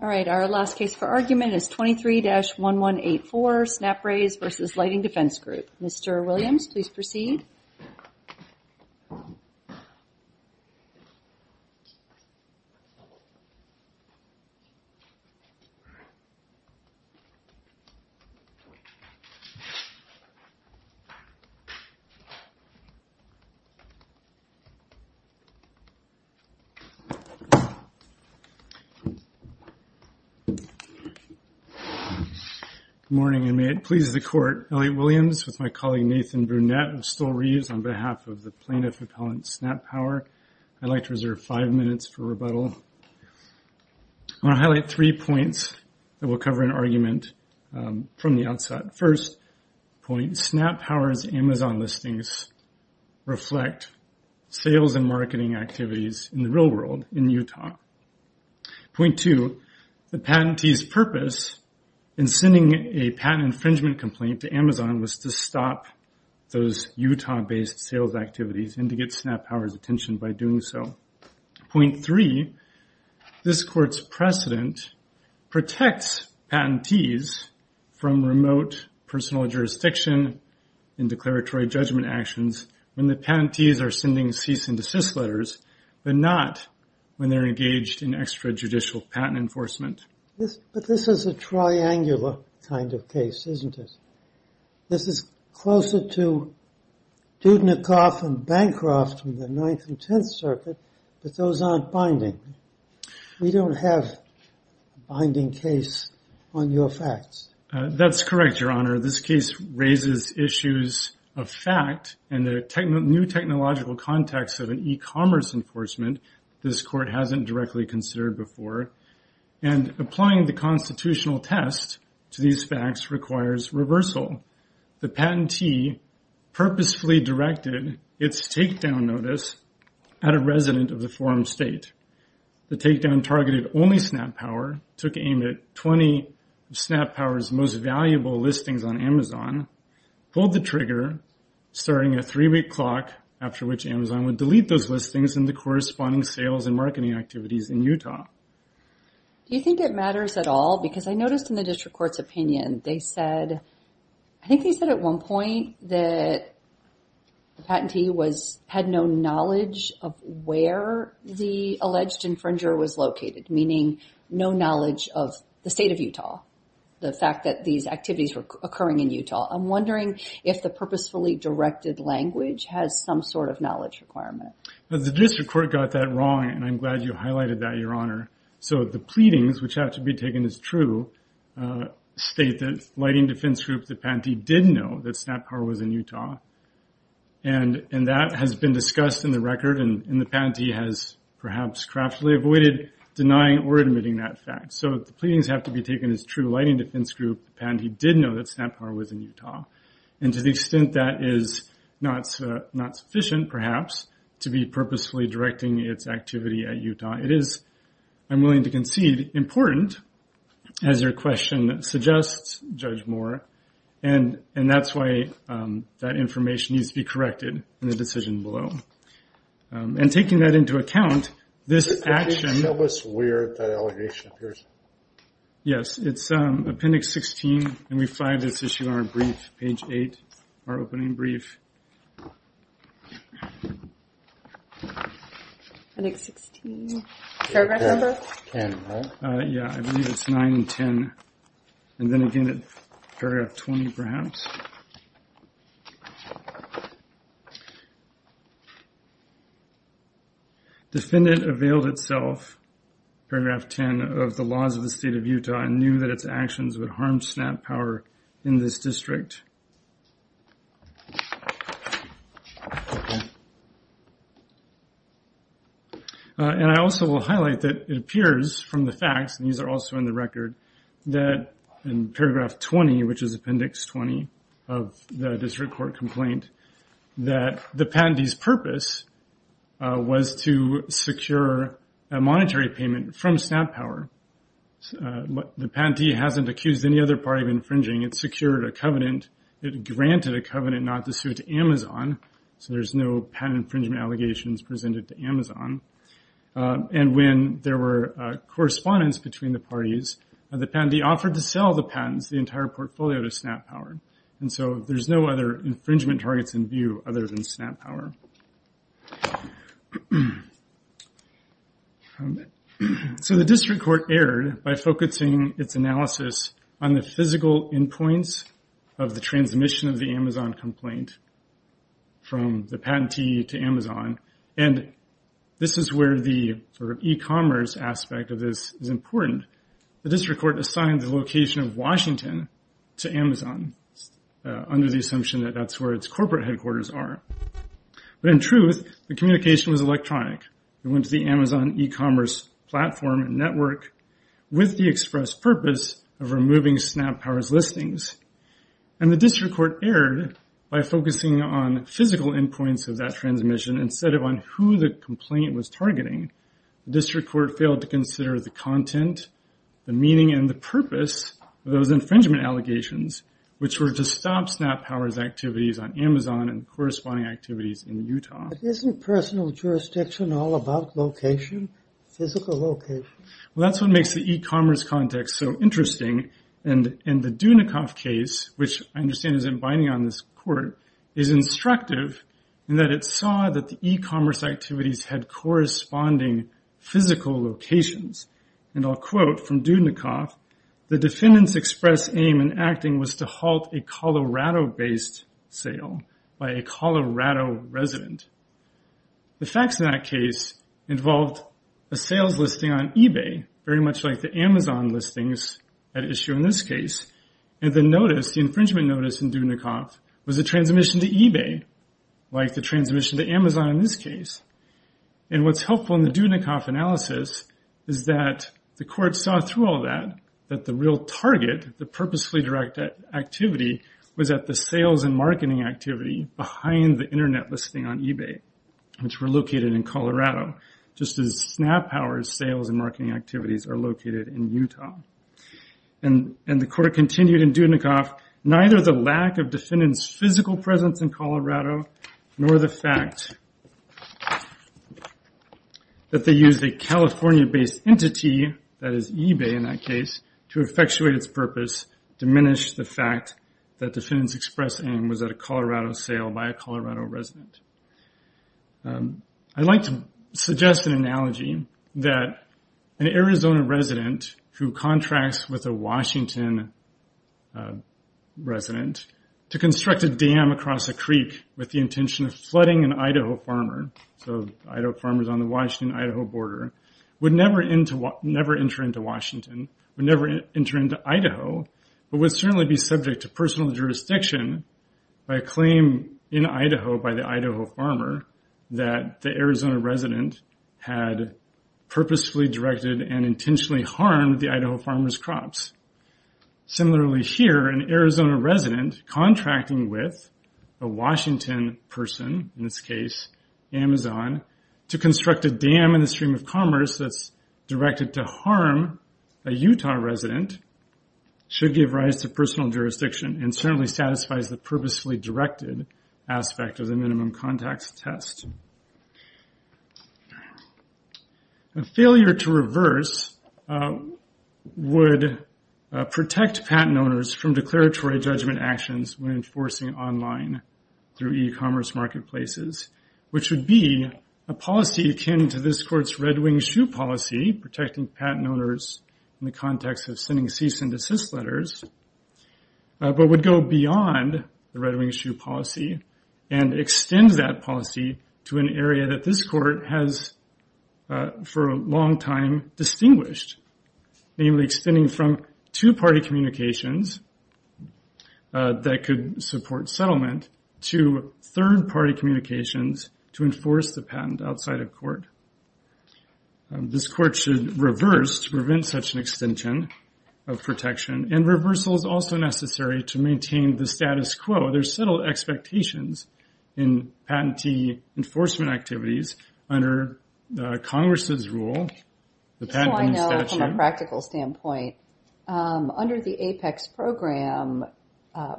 All right, our last case for argument is 23-1184, SnapRays v. Lighting Defense Group. Mr. Williams, please proceed. Good morning, and may it please the Court, Elliot Williams with my colleague Nathan Brunette of Stull Reeves on behalf of the plaintiff appellant, SnapPower, I'd like to reserve five minutes for rebuttal. I want to highlight three points that will cover an argument from the outset. First point, SnapPower's Amazon listings reflect sales and marketing activities in the real world in Utah. Point two, the patentee's purpose in sending a patent infringement complaint to Amazon was to stop those Utah-based sales activities and to get SnapPower's attention by doing so. Point three, this Court's precedent protects patentees from remote personal jurisdiction in declaratory judgment actions when the patentees are sending cease and desist letters, but not when they're engaged in extrajudicial patent enforcement. But this is a triangular kind of case, isn't it? This is closer to Dudnikoff and Bancroft from the Ninth and Tenth Circuit, but those aren't binding. We don't have a binding case on your facts. That's correct, Your Honor. Your Honor, this case raises issues of fact and the new technological context of an e-commerce enforcement this Court hasn't directly considered before, and applying the constitutional test to these facts requires reversal. The patentee purposefully directed its takedown notice at a resident of the forum state. The takedown targeted only SnapPower, took aim at 20 of SnapPower's most valuable listings on Amazon, pulled the trigger, starting a three-week clock after which Amazon would delete those listings and the corresponding sales and marketing activities in Utah. Do you think it matters at all? Because I noticed in the District Court's opinion, they said, I think they said at one point that the patentee had no knowledge of where the alleged infringer was located, meaning no knowledge of the state of Utah, the fact that these activities were occurring in Utah. I'm wondering if the purposefully directed language has some sort of knowledge requirement. The District Court got that wrong, and I'm glad you highlighted that, Your Honor. So the pleadings, which have to be taken as true, state that lighting defense groups, the patentee did know that SnapPower was in Utah, and that has been discussed in the record and the patentee has perhaps craftily avoided denying or admitting that fact. So the pleadings have to be taken as true, lighting defense group, the patentee did know that SnapPower was in Utah, and to the extent that is not sufficient, perhaps, to be purposefully directing its activity at Utah, it is, I'm willing to concede, important, as your question suggests, Judge Moore, and that's why that information needs to be corrected in the decision below. And taking that into account, this action... Can you tell us where that allegation appears? Yes, it's Appendix 16, and we find this issue on our brief, page 8, our opening brief. Appendix 16, paragraph number? 10, right? Yeah, I believe it's 9 and 10, and then again at paragraph 20, perhaps. Defendant availed itself, paragraph 10, of the laws of the state of Utah and knew that its actions would harm SnapPower in this district. And I also will highlight that it appears from the facts, and these are also in the of the district court complaint, that the patentee's purpose was to secure a monetary payment from SnapPower. The patentee hasn't accused any other party of infringing, it secured a covenant, it granted a covenant not to sue to Amazon, so there's no patent infringement allegations presented to Amazon. And when there were correspondence between the parties, the patentee offered to sell the patents, the entire portfolio, to SnapPower, and so there's no other infringement targets in view other than SnapPower. So the district court erred by focusing its analysis on the physical endpoints of the transmission of the Amazon complaint from the patentee to Amazon, and this is where the district court assigned the location of Washington to Amazon, under the assumption that that's where its corporate headquarters are. But in truth, the communication was electronic, it went to the Amazon e-commerce platform network with the express purpose of removing SnapPower's listings. And the district court erred by focusing on physical endpoints of that transmission instead of on who the complaint was targeting, the district court failed to consider the content, the meaning and the purpose of those infringement allegations, which were to stop SnapPower's activities on Amazon and corresponding activities in Utah. But isn't personal jurisdiction all about location, physical location? Well, that's what makes the e-commerce context so interesting, and the Dunikoff case, which I understand isn't binding on this court, is instructive in that it saw that the e-commerce activities had corresponding physical locations. And I'll quote from Dunikoff, the defendant's express aim in acting was to halt a Colorado-based sale by a Colorado resident. The facts in that case involved a sales listing on eBay, very much like the Amazon listings at issue in this case, and the notice, the infringement notice in Dunikoff was a transmission to eBay, like the transmission to Amazon in this case. And what's helpful in the Dunikoff analysis is that the court saw through all that, that the real target, the purposefully direct activity was at the sales and marketing activity behind the internet listing on eBay, which were located in Colorado, just as SnapPower's sales and marketing activities. And the court continued in Dunikoff, neither the lack of defendant's physical presence in Colorado, nor the fact that they used a California-based entity, that is eBay in that case, to effectuate its purpose diminished the fact that defendant's express aim was at a Colorado sale by a Colorado resident. I'd like to suggest an analogy that an Arizona resident who contracts with a Washington resident to construct a dam across a creek with the intention of flooding an Idaho farmer, so Idaho farmers on the Washington-Idaho border, would never enter into Washington, would never enter into Idaho, but would certainly be subject to personal jurisdiction by a claim in Idaho by the Idaho farmer that the Arizona resident had purposefully directed and intentionally harmed the Idaho farmer's crops. Similarly, here, an Arizona resident contracting with a Washington person, in this case, Amazon, to construct a dam in the stream of commerce that's directed to harm a Utah resident should give rise to personal jurisdiction and certainly satisfies the purposefully directed aspect of the minimum contacts test. Failure to reverse would protect patent owners from declaratory judgment actions when enforcing online through e-commerce marketplaces, which would be a policy akin to this court's red wing shoe policy, protecting patent owners in the context of sending cease and desist letters, but would go beyond the red wing shoe policy and extend that policy to an area that this court has for a long time distinguished, namely extending from two-party communications that could support settlement to third-party communications to enforce the patent outside of court. This court should reverse to prevent such an extension of protection, and reversal is also necessary to maintain the status quo. There's subtle expectations in patentee enforcement activities under Congress's rule, the patent statute. This is how I know from a practical standpoint. Under the APEX program,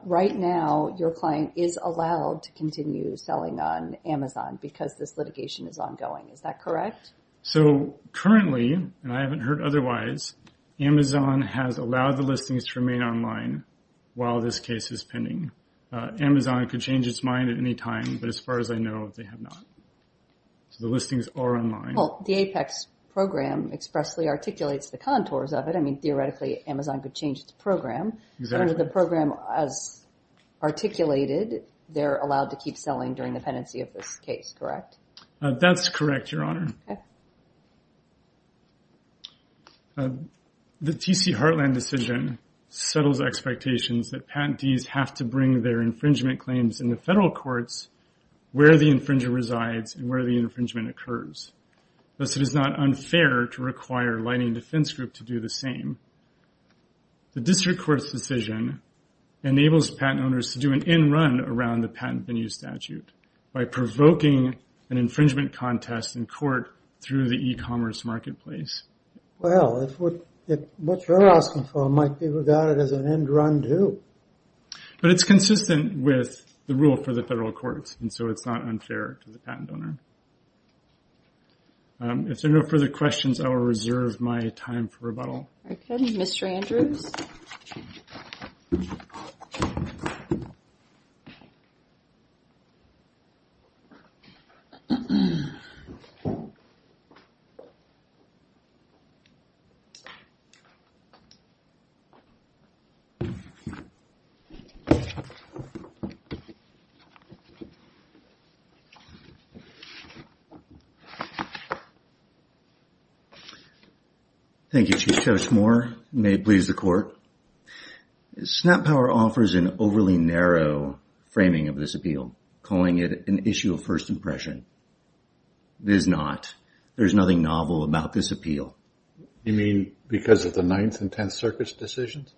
right now, your client is allowed to continue selling on Amazon because this litigation is ongoing. Is that correct? So, currently, and I haven't heard otherwise, Amazon has allowed the listings to remain online while this case is pending. Amazon could change its mind at any time, but as far as I know, they have not. The listings are online. The APEX program expressly articulates the contours of it. I mean, theoretically, Amazon could change its program, but under the program as articulated, they're allowed to keep selling during the pendency of this case, correct? That's correct, Your Honor. The TC Heartland decision settles expectations that patentees have to bring their infringement claims in the federal courts where the infringer resides and where the infringement occurs. Thus, it is not unfair to require Lightning Defense Group to do the same. The district court's decision enables patent owners to do an end run around the patent venue statute by provoking an infringement contest in court through the e-commerce marketplace. Well, what you're asking for might be regarded as an end run, too. But it's consistent with the rule for the federal courts, and so it's not unfair to the patent owner. If there are no further questions, I will reserve my time for rebuttal. Okay, Mr. Andrews. Thank you, Chief Judge Moore. You may please the Court. Snap Power offers an overly narrow framing of this appeal, calling it an issue of first impression. It is not. There's nothing novel about this appeal. You mean because of the Ninth and Tenth Circuit's decisions?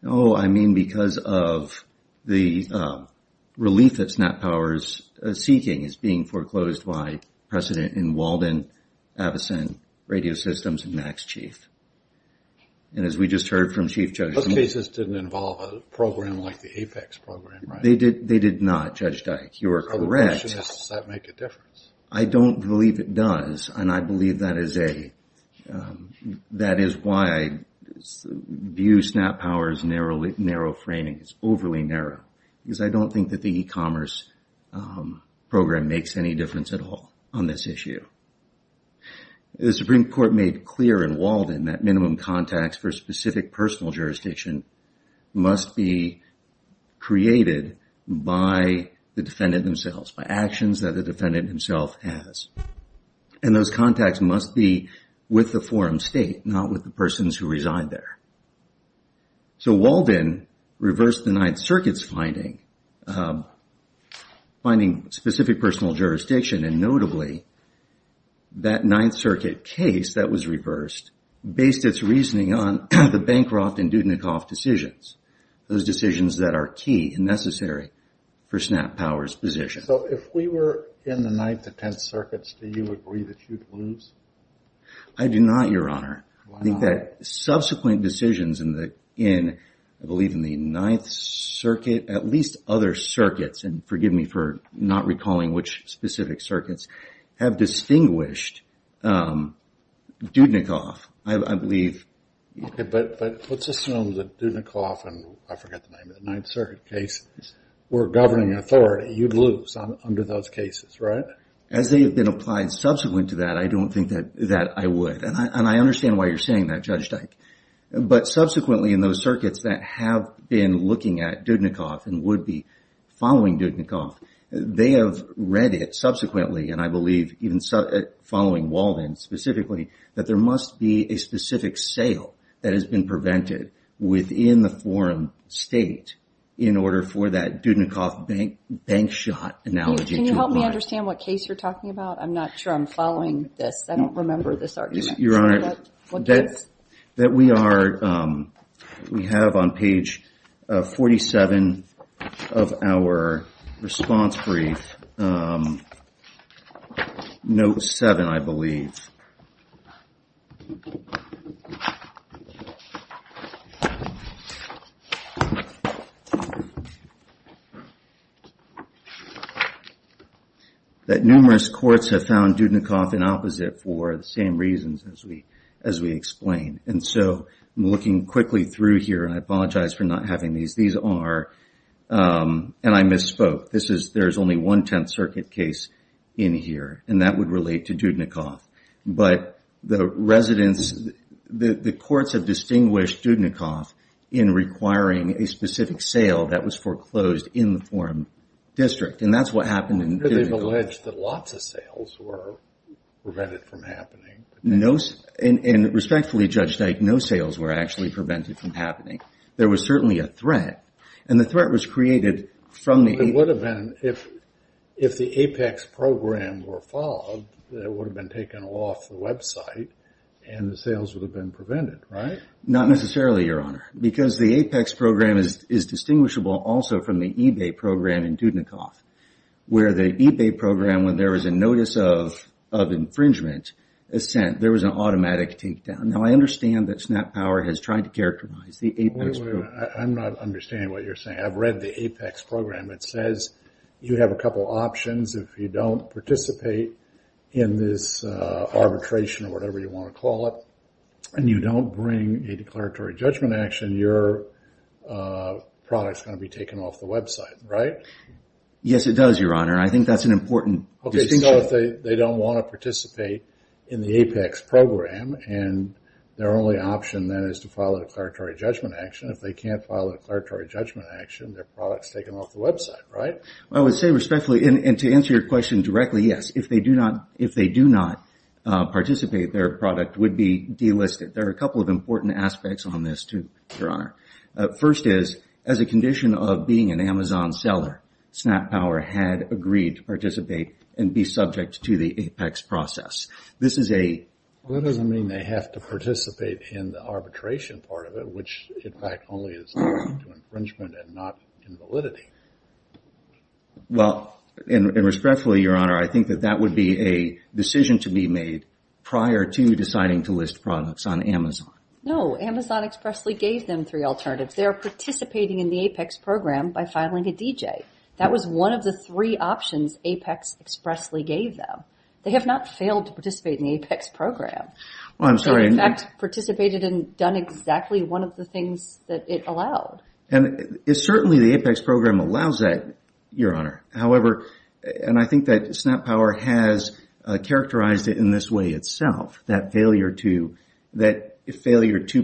No, I mean because of the relief that Snap Power is seeking is being foreclosed by President and Walden, Abison, Radio Systems, and Max Chief. And as we just heard from Chief Judge Moore... Those cases didn't involve a program like the APEX program, right? They did not, Judge Dike. You are correct. Does that make a difference? I don't believe it does, and I believe that is why I view Snap Power's narrow framing. It's overly narrow, because I don't think that the e-commerce program makes any difference at all on this issue. The Supreme Court made clear in Walden that minimum contacts for specific personal jurisdiction must be created by the defendant themselves, by actions that the defendant himself has. And those contacts must be with the forum state, not with the persons who reside there. So Walden reversed the Ninth Circuit's finding, finding specific personal jurisdiction, and notably that Ninth Circuit case that was reversed based its reasoning on the Bancroft and Dudnikoff decisions. Those decisions that are key and necessary for Snap Power's position. So if we were in the Ninth and Tenth Circuits, do you agree that you'd lose? I do not, Your Honor. I think that subsequent decisions in, I believe, in the Ninth Circuit, at least other circuits, and forgive me for not recalling which specific circuits, have distinguished Dudnikoff, I believe. Okay, but let's assume that Dudnikoff and I forget the name of the Ninth Circuit case were governing authority. You'd lose under those cases, right? As they have been applied subsequent to that, I don't think that I would. And I understand why you're saying that, Judge Dyke. But subsequently in those circuits that have been looking at Dudnikoff and would be following Dudnikoff, they have read it subsequently, and I believe even following Walden specifically, that there must be a specific sale that has been prevented within the forum state in order for that Dudnikoff bank shot analogy to apply. Can you help me understand what case you're talking about? I'm not sure I'm following this. I don't remember this argument. Your Honor, that we have on page 47 of our response brief, note 7, I believe, that numerous courts have found Dudnikoff in opposite for the same reasons as we explained. And so I'm looking quickly through here, and I apologize for not having these. These are, and I misspoke, there's only one Tenth Circuit case in here, and that would relate to Dudnikoff. But the residents, the courts have distinguished Dudnikoff in requiring a specific sale that was foreclosed in the forum district, and that's what happened in Dudnikoff. But they've alleged that lots of sales were prevented from happening. And respectfully, Judge Dyke, no sales were actually prevented from happening. There was certainly a threat, and the threat was created from the... that would have been taken off the website, and the sales would have been prevented, right? Not necessarily, Your Honor, because the APEX program is distinguishable also from the eBay program in Dudnikoff, where the eBay program, when there was a notice of infringement sent, there was an automatic takedown. Now, I understand that SnapPower has tried to characterize the APEX program. I'm not understanding what you're saying. I've read the APEX program. It says you have a couple options if you don't participate in this arbitration, or whatever you want to call it, and you don't bring a declaratory judgment action, your product's going to be taken off the website, right? Yes, it does, Your Honor. I think that's an important distinction. Okay, think of it as they don't want to participate in the APEX program, and their only option then is to file a declaratory judgment action. If they can't file a declaratory judgment action, their product's taken off the website, right? I would say respectfully, and to answer your question directly, yes, if they do not participate, their product would be delisted. There are a couple of important aspects on this, too, Your Honor. First is, as a condition of being an Amazon seller, SnapPower had agreed to participate and be subject to the APEX process. Well, that doesn't mean they have to participate in the arbitration part of it, which, in fact, only is linked to infringement and not invalidity. Well, and respectfully, Your Honor, I think that that would be a decision to be made prior to deciding to list products on Amazon. No, Amazon expressly gave them three alternatives. They are participating in the APEX program by filing a DJ. That was one of the three options APEX expressly gave them. They have not failed to participate in the APEX program. Well, I'm sorry. They, in fact, participated and done exactly one of the things that it allowed. And certainly the APEX program allows that, Your Honor. However, and I think that SnapPower has characterized it in this way itself, that failure to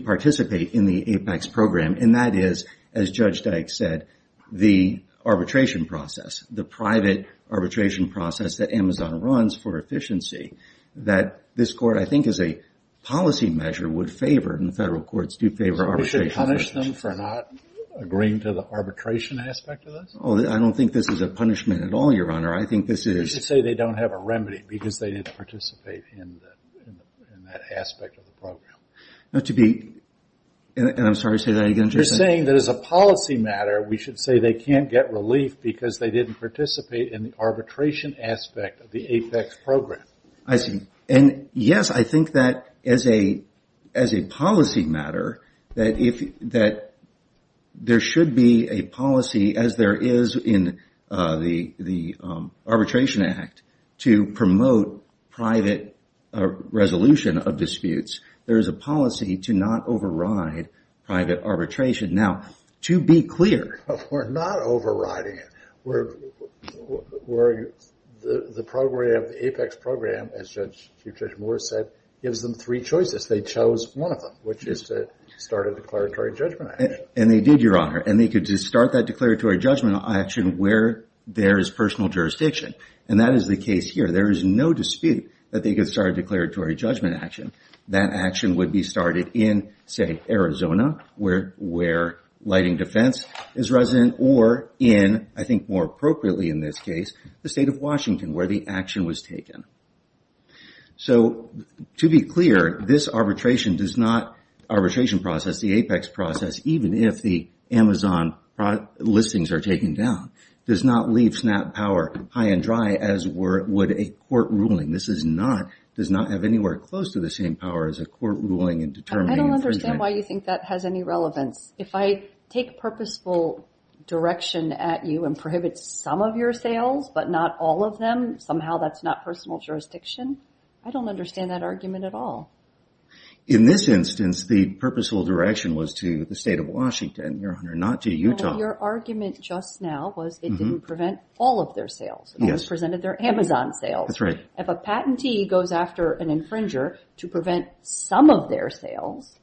participate in the APEX program, and that is, as Judge Dyke said, the arbitration process, the private arbitration process that Amazon runs for efficiency, that this court, I think, as a policy measure would favor, and the federal courts do favor arbitration. So we should punish them for not agreeing to the arbitration aspect of this? Oh, I don't think this is a punishment at all, Your Honor. I think this is. You should say they don't have a remedy because they didn't participate in that aspect of the program. Now, to be, and I'm sorry to say that again. You're saying that as a policy matter we should say they can't get relief because they didn't participate in the arbitration aspect of the APEX program. I see. And, yes, I think that as a policy matter, that there should be a policy, as there is in the Arbitration Act, to promote private resolution of disputes. There is a policy to not override private arbitration. Now, to be clear. We're not overriding it. The program, the APEX program, as Chief Judge Moore said, gives them three choices. They chose one of them, which is to start a declaratory judgment action. And they did, Your Honor. And they could just start that declaratory judgment action where there is personal jurisdiction. And that is the case here. There is no dispute that they could start a declaratory judgment action. That action would be started in, say, Arizona where lighting defense is resident or in, I think more appropriately in this case, the state of Washington where the action was taken. So, to be clear, this arbitration does not, arbitration process, the APEX process, even if the Amazon listings are taken down, does not leave SNAP power high and dry as would a court ruling. This does not have anywhere close to the same power as a court ruling in determining infringement. I don't understand why you think that has any relevance. If I take purposeful direction at you and prohibit some of your sales but not all of them, somehow that's not personal jurisdiction. I don't understand that argument at all. In this instance, the purposeful direction was to the state of Washington, Your Honor, not to Utah. Your argument just now was it didn't prevent all of their sales. It only presented their Amazon sales. That's right. If a patentee goes after an infringer to prevent some of their sales,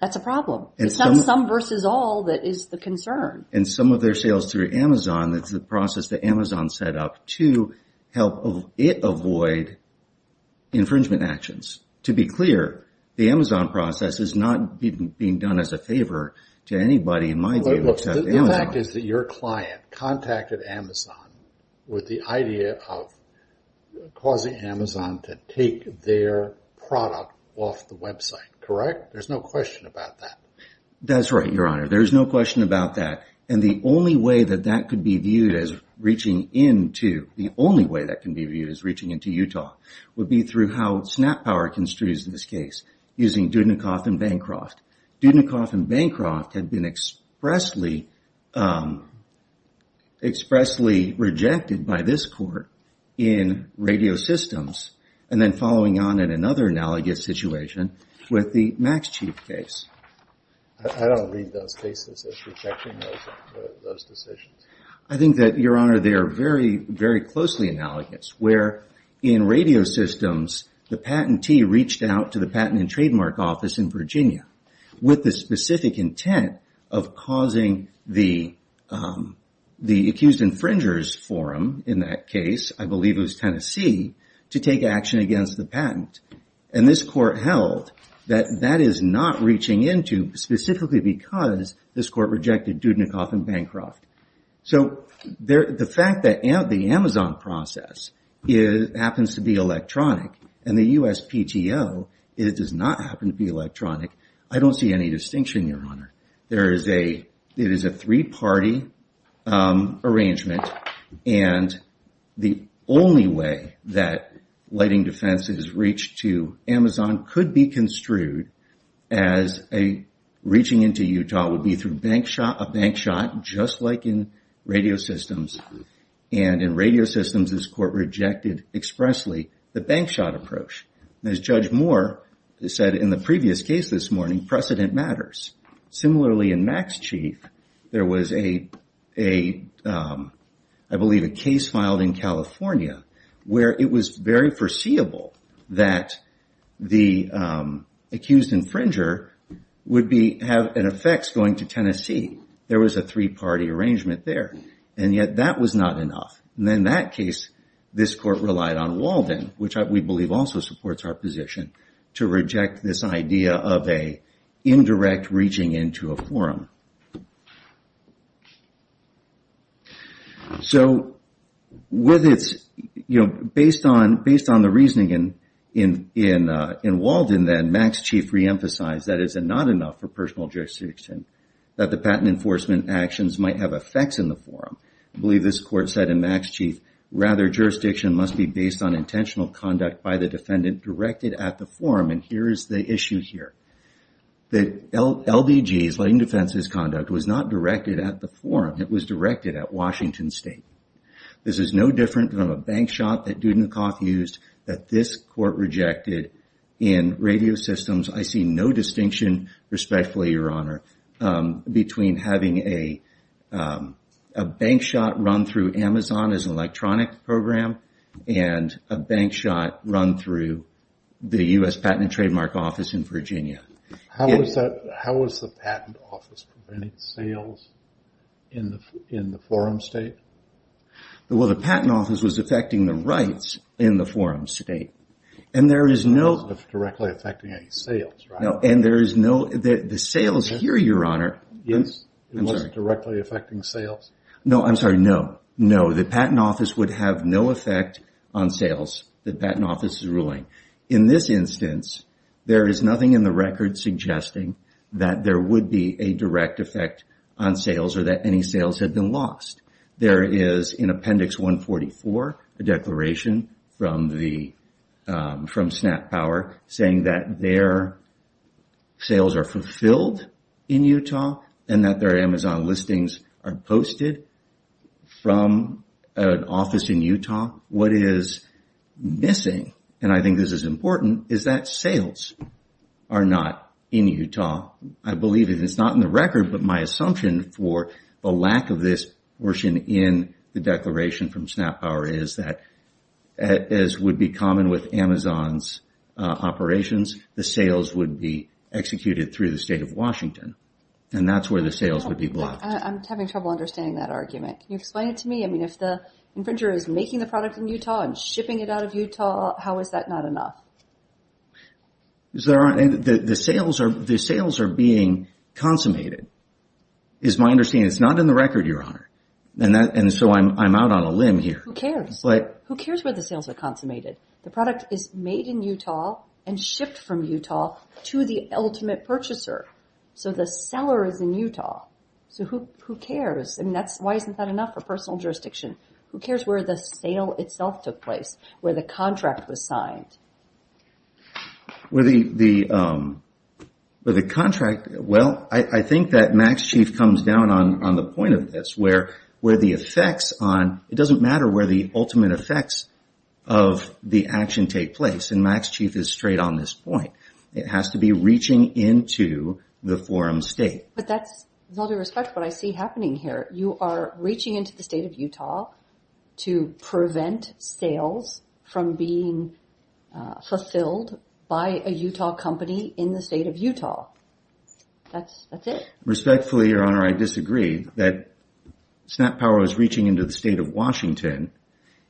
that's a problem. It's not some versus all that is the concern. And some of their sales through Amazon, that's the process that Amazon set up to help it avoid infringement actions. To be clear, the Amazon process is not being done as a favor to anybody in my view except Amazon. The fact is that your client contacted Amazon with the idea of causing Amazon to take their product off the website, correct? There's no question about that. That's right, Your Honor. There's no question about that. And the only way that that could be viewed as reaching into Utah would be through how SnapPower construes this case using Dudnikoff and Bancroft. Dudnikoff and Bancroft have been expressly rejected by this court in radio systems and then following on in another analogous situation with the Max Chief case. I don't read those cases as rejecting those decisions. I think that, Your Honor, they are very, very closely analogous where in radio systems the patentee reached out to the patent and trademark office in Virginia with the specific intent of causing the accused infringer's forum in that case, I believe it was Tennessee, to take action against the patent. And this court held that that is not reaching into specifically because this court rejected Dudnikoff and Bancroft. So the fact that the Amazon process happens to be electronic and the USPTO does not happen to be electronic, I don't see any distinction, Your Honor. It is a three-party arrangement and the only way that lighting defense has reached to Amazon could be construed as reaching into Utah would be through a bank shot just like in radio systems. And in radio systems this court rejected expressly the bank shot approach. As Judge Moore said in the previous case this morning, precedent matters. Similarly in Max Chief, there was, I believe, a case filed in California where it was very foreseeable that the accused infringer would have an effect going to Tennessee. There was a three-party arrangement there and yet that was not enough. And in that case this court relied on Walden, which we believe also supports our position, to reject this idea of an indirect reaching into a forum. So based on the reasoning in Walden then, Max Chief re-emphasized that it is not enough for personal jurisdiction that the patent enforcement actions might have effects in the forum. I believe this court said in Max Chief, rather jurisdiction must be based on intentional conduct by the defendant directed at the forum and here is the issue here. The LBG, Lighting Defenses Conduct, was not directed at the forum. It was directed at Washington State. This is no different from a bank shot that Dudnikoff used that this court rejected in radio systems. I see no distinction, respectfully, Your Honor, between having a bank shot run through Amazon as an electronic program and a bank shot run through the U.S. Patent and Trademark Office in Virginia. How was the Patent Office preventing sales in the forum state? Well, the Patent Office was affecting the rights in the forum state and there is no... It wasn't directly affecting any sales, right? No, and there is no... the sales here, Your Honor... It wasn't directly affecting sales? No, I'm sorry, no. No, the Patent Office would have no effect on sales that the Patent Office is ruling. In this instance, there is nothing in the record suggesting that there would be a direct effect on sales or that any sales had been lost. There is in Appendix 144, a declaration from SNAP Power saying that their sales are fulfilled in Utah and that their Amazon listings are posted from an office in Utah. What is missing, and I think this is important, is that sales are not in Utah. I believe it is not in the record, but my assumption for the lack of this portion in the declaration from SNAP Power is that, as would be common with Amazon's operations, the sales would be executed through the state of Washington. And that's where the sales would be blocked. I'm having trouble understanding that argument. Can you explain it to me? I mean, if the infringer is making the product in Utah and shipping it out of Utah, how is that not enough? The sales are being consummated, is my understanding. It's not in the record, Your Honor. And so I'm out on a limb here. Who cares? Who cares where the sales are consummated? The product is made in Utah and shipped from Utah to the ultimate purchaser. So the seller is in Utah. So who cares? Why isn't that enough for personal jurisdiction? Who cares where the sale itself took place, where the contract was signed? Well, I think that Max Chief comes down on the point of this. It doesn't matter where the ultimate effects of the action take place, and Max Chief is straight on this point. It has to be reaching into the forum state. But that's, with all due respect, what I see happening here. You are reaching into the state of Utah to prevent sales from being fulfilled by a Utah company in the state of Utah. That's it. Respectfully, Your Honor, I disagree that SnapPower is reaching into the state of Washington.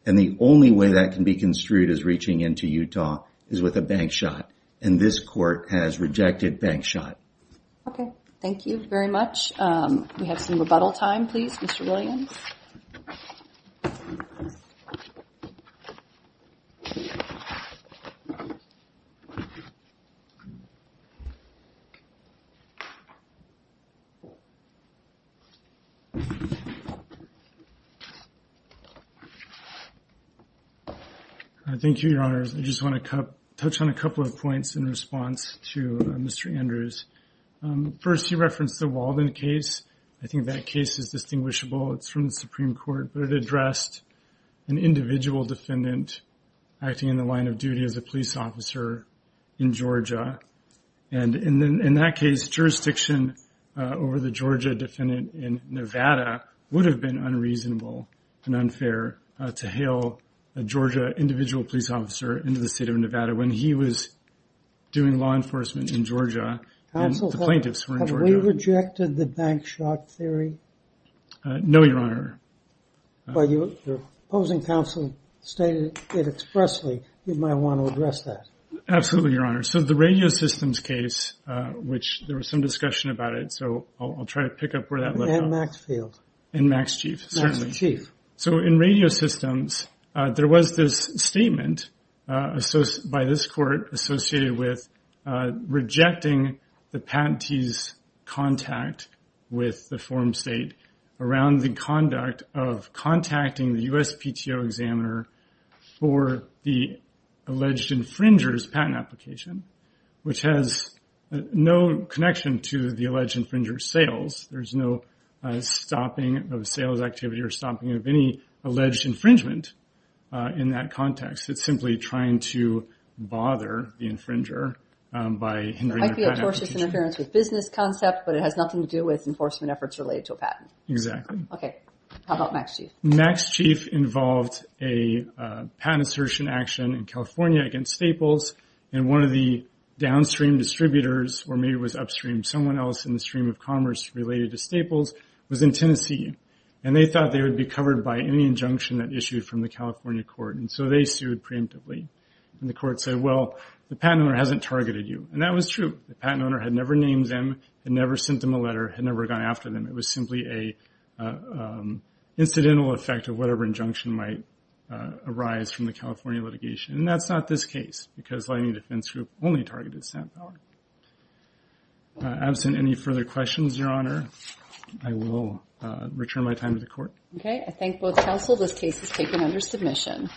And the only way that can be construed as reaching into Utah is with a bank shot. And this court has rejected bank shot. Okay. Thank you very much. We have some rebuttal time, please, Mr. Williams. Thank you, Your Honor. I just want to touch on a couple of points in response to Mr. Andrews. First, he referenced the Walden case. I think that case is distinguishable. It's from the Supreme Court. But it addressed an individual defendant acting in the line of duty as a police officer in Georgia. And in that case, jurisdiction over the Georgia defendant in Nevada would have been unreasonable and unfair to hail a Georgia individual police officer into the state of Nevada when he was doing law enforcement in Georgia and the plaintiffs were in Georgia. Have we rejected the bank shot theory? No, Your Honor. But your opposing counsel stated it expressly. You might want to address that. Absolutely, Your Honor. So the radio systems case, which there was some discussion about it, so I'll try to pick up where that left off. And Maxfield. And Max Chief, certainly. Max Chief. Which has no connection to the alleged infringer's sales. There's no stopping of sales activity or stopping of any alleged infringement in that context. It's simply trying to bother the infringer by hindering their patent application. It might be a tortious interference with business concept, but it has nothing to do with enforcement efforts related to a patent. Exactly. Okay. How about Max Chief? Max Chief involved a patent assertion action in California against Staples. And one of the downstream distributors, or maybe it was upstream, someone else in the stream of commerce related to Staples, was in Tennessee. And they thought they would be covered by any injunction that issued from the California court. And so they sued preemptively. And the court said, well, the patent owner hasn't targeted you. And that was true. The patent owner had never named them, had never sent them a letter, had never gone after them. It was simply an incidental effect of whatever injunction might arise from the California litigation. And that's not this case, because Lightning Defense Group only targeted Sam Fowler. Absent any further questions, Your Honor, I will return my time to the court. Okay. I thank both counsel. This case is taken under submission.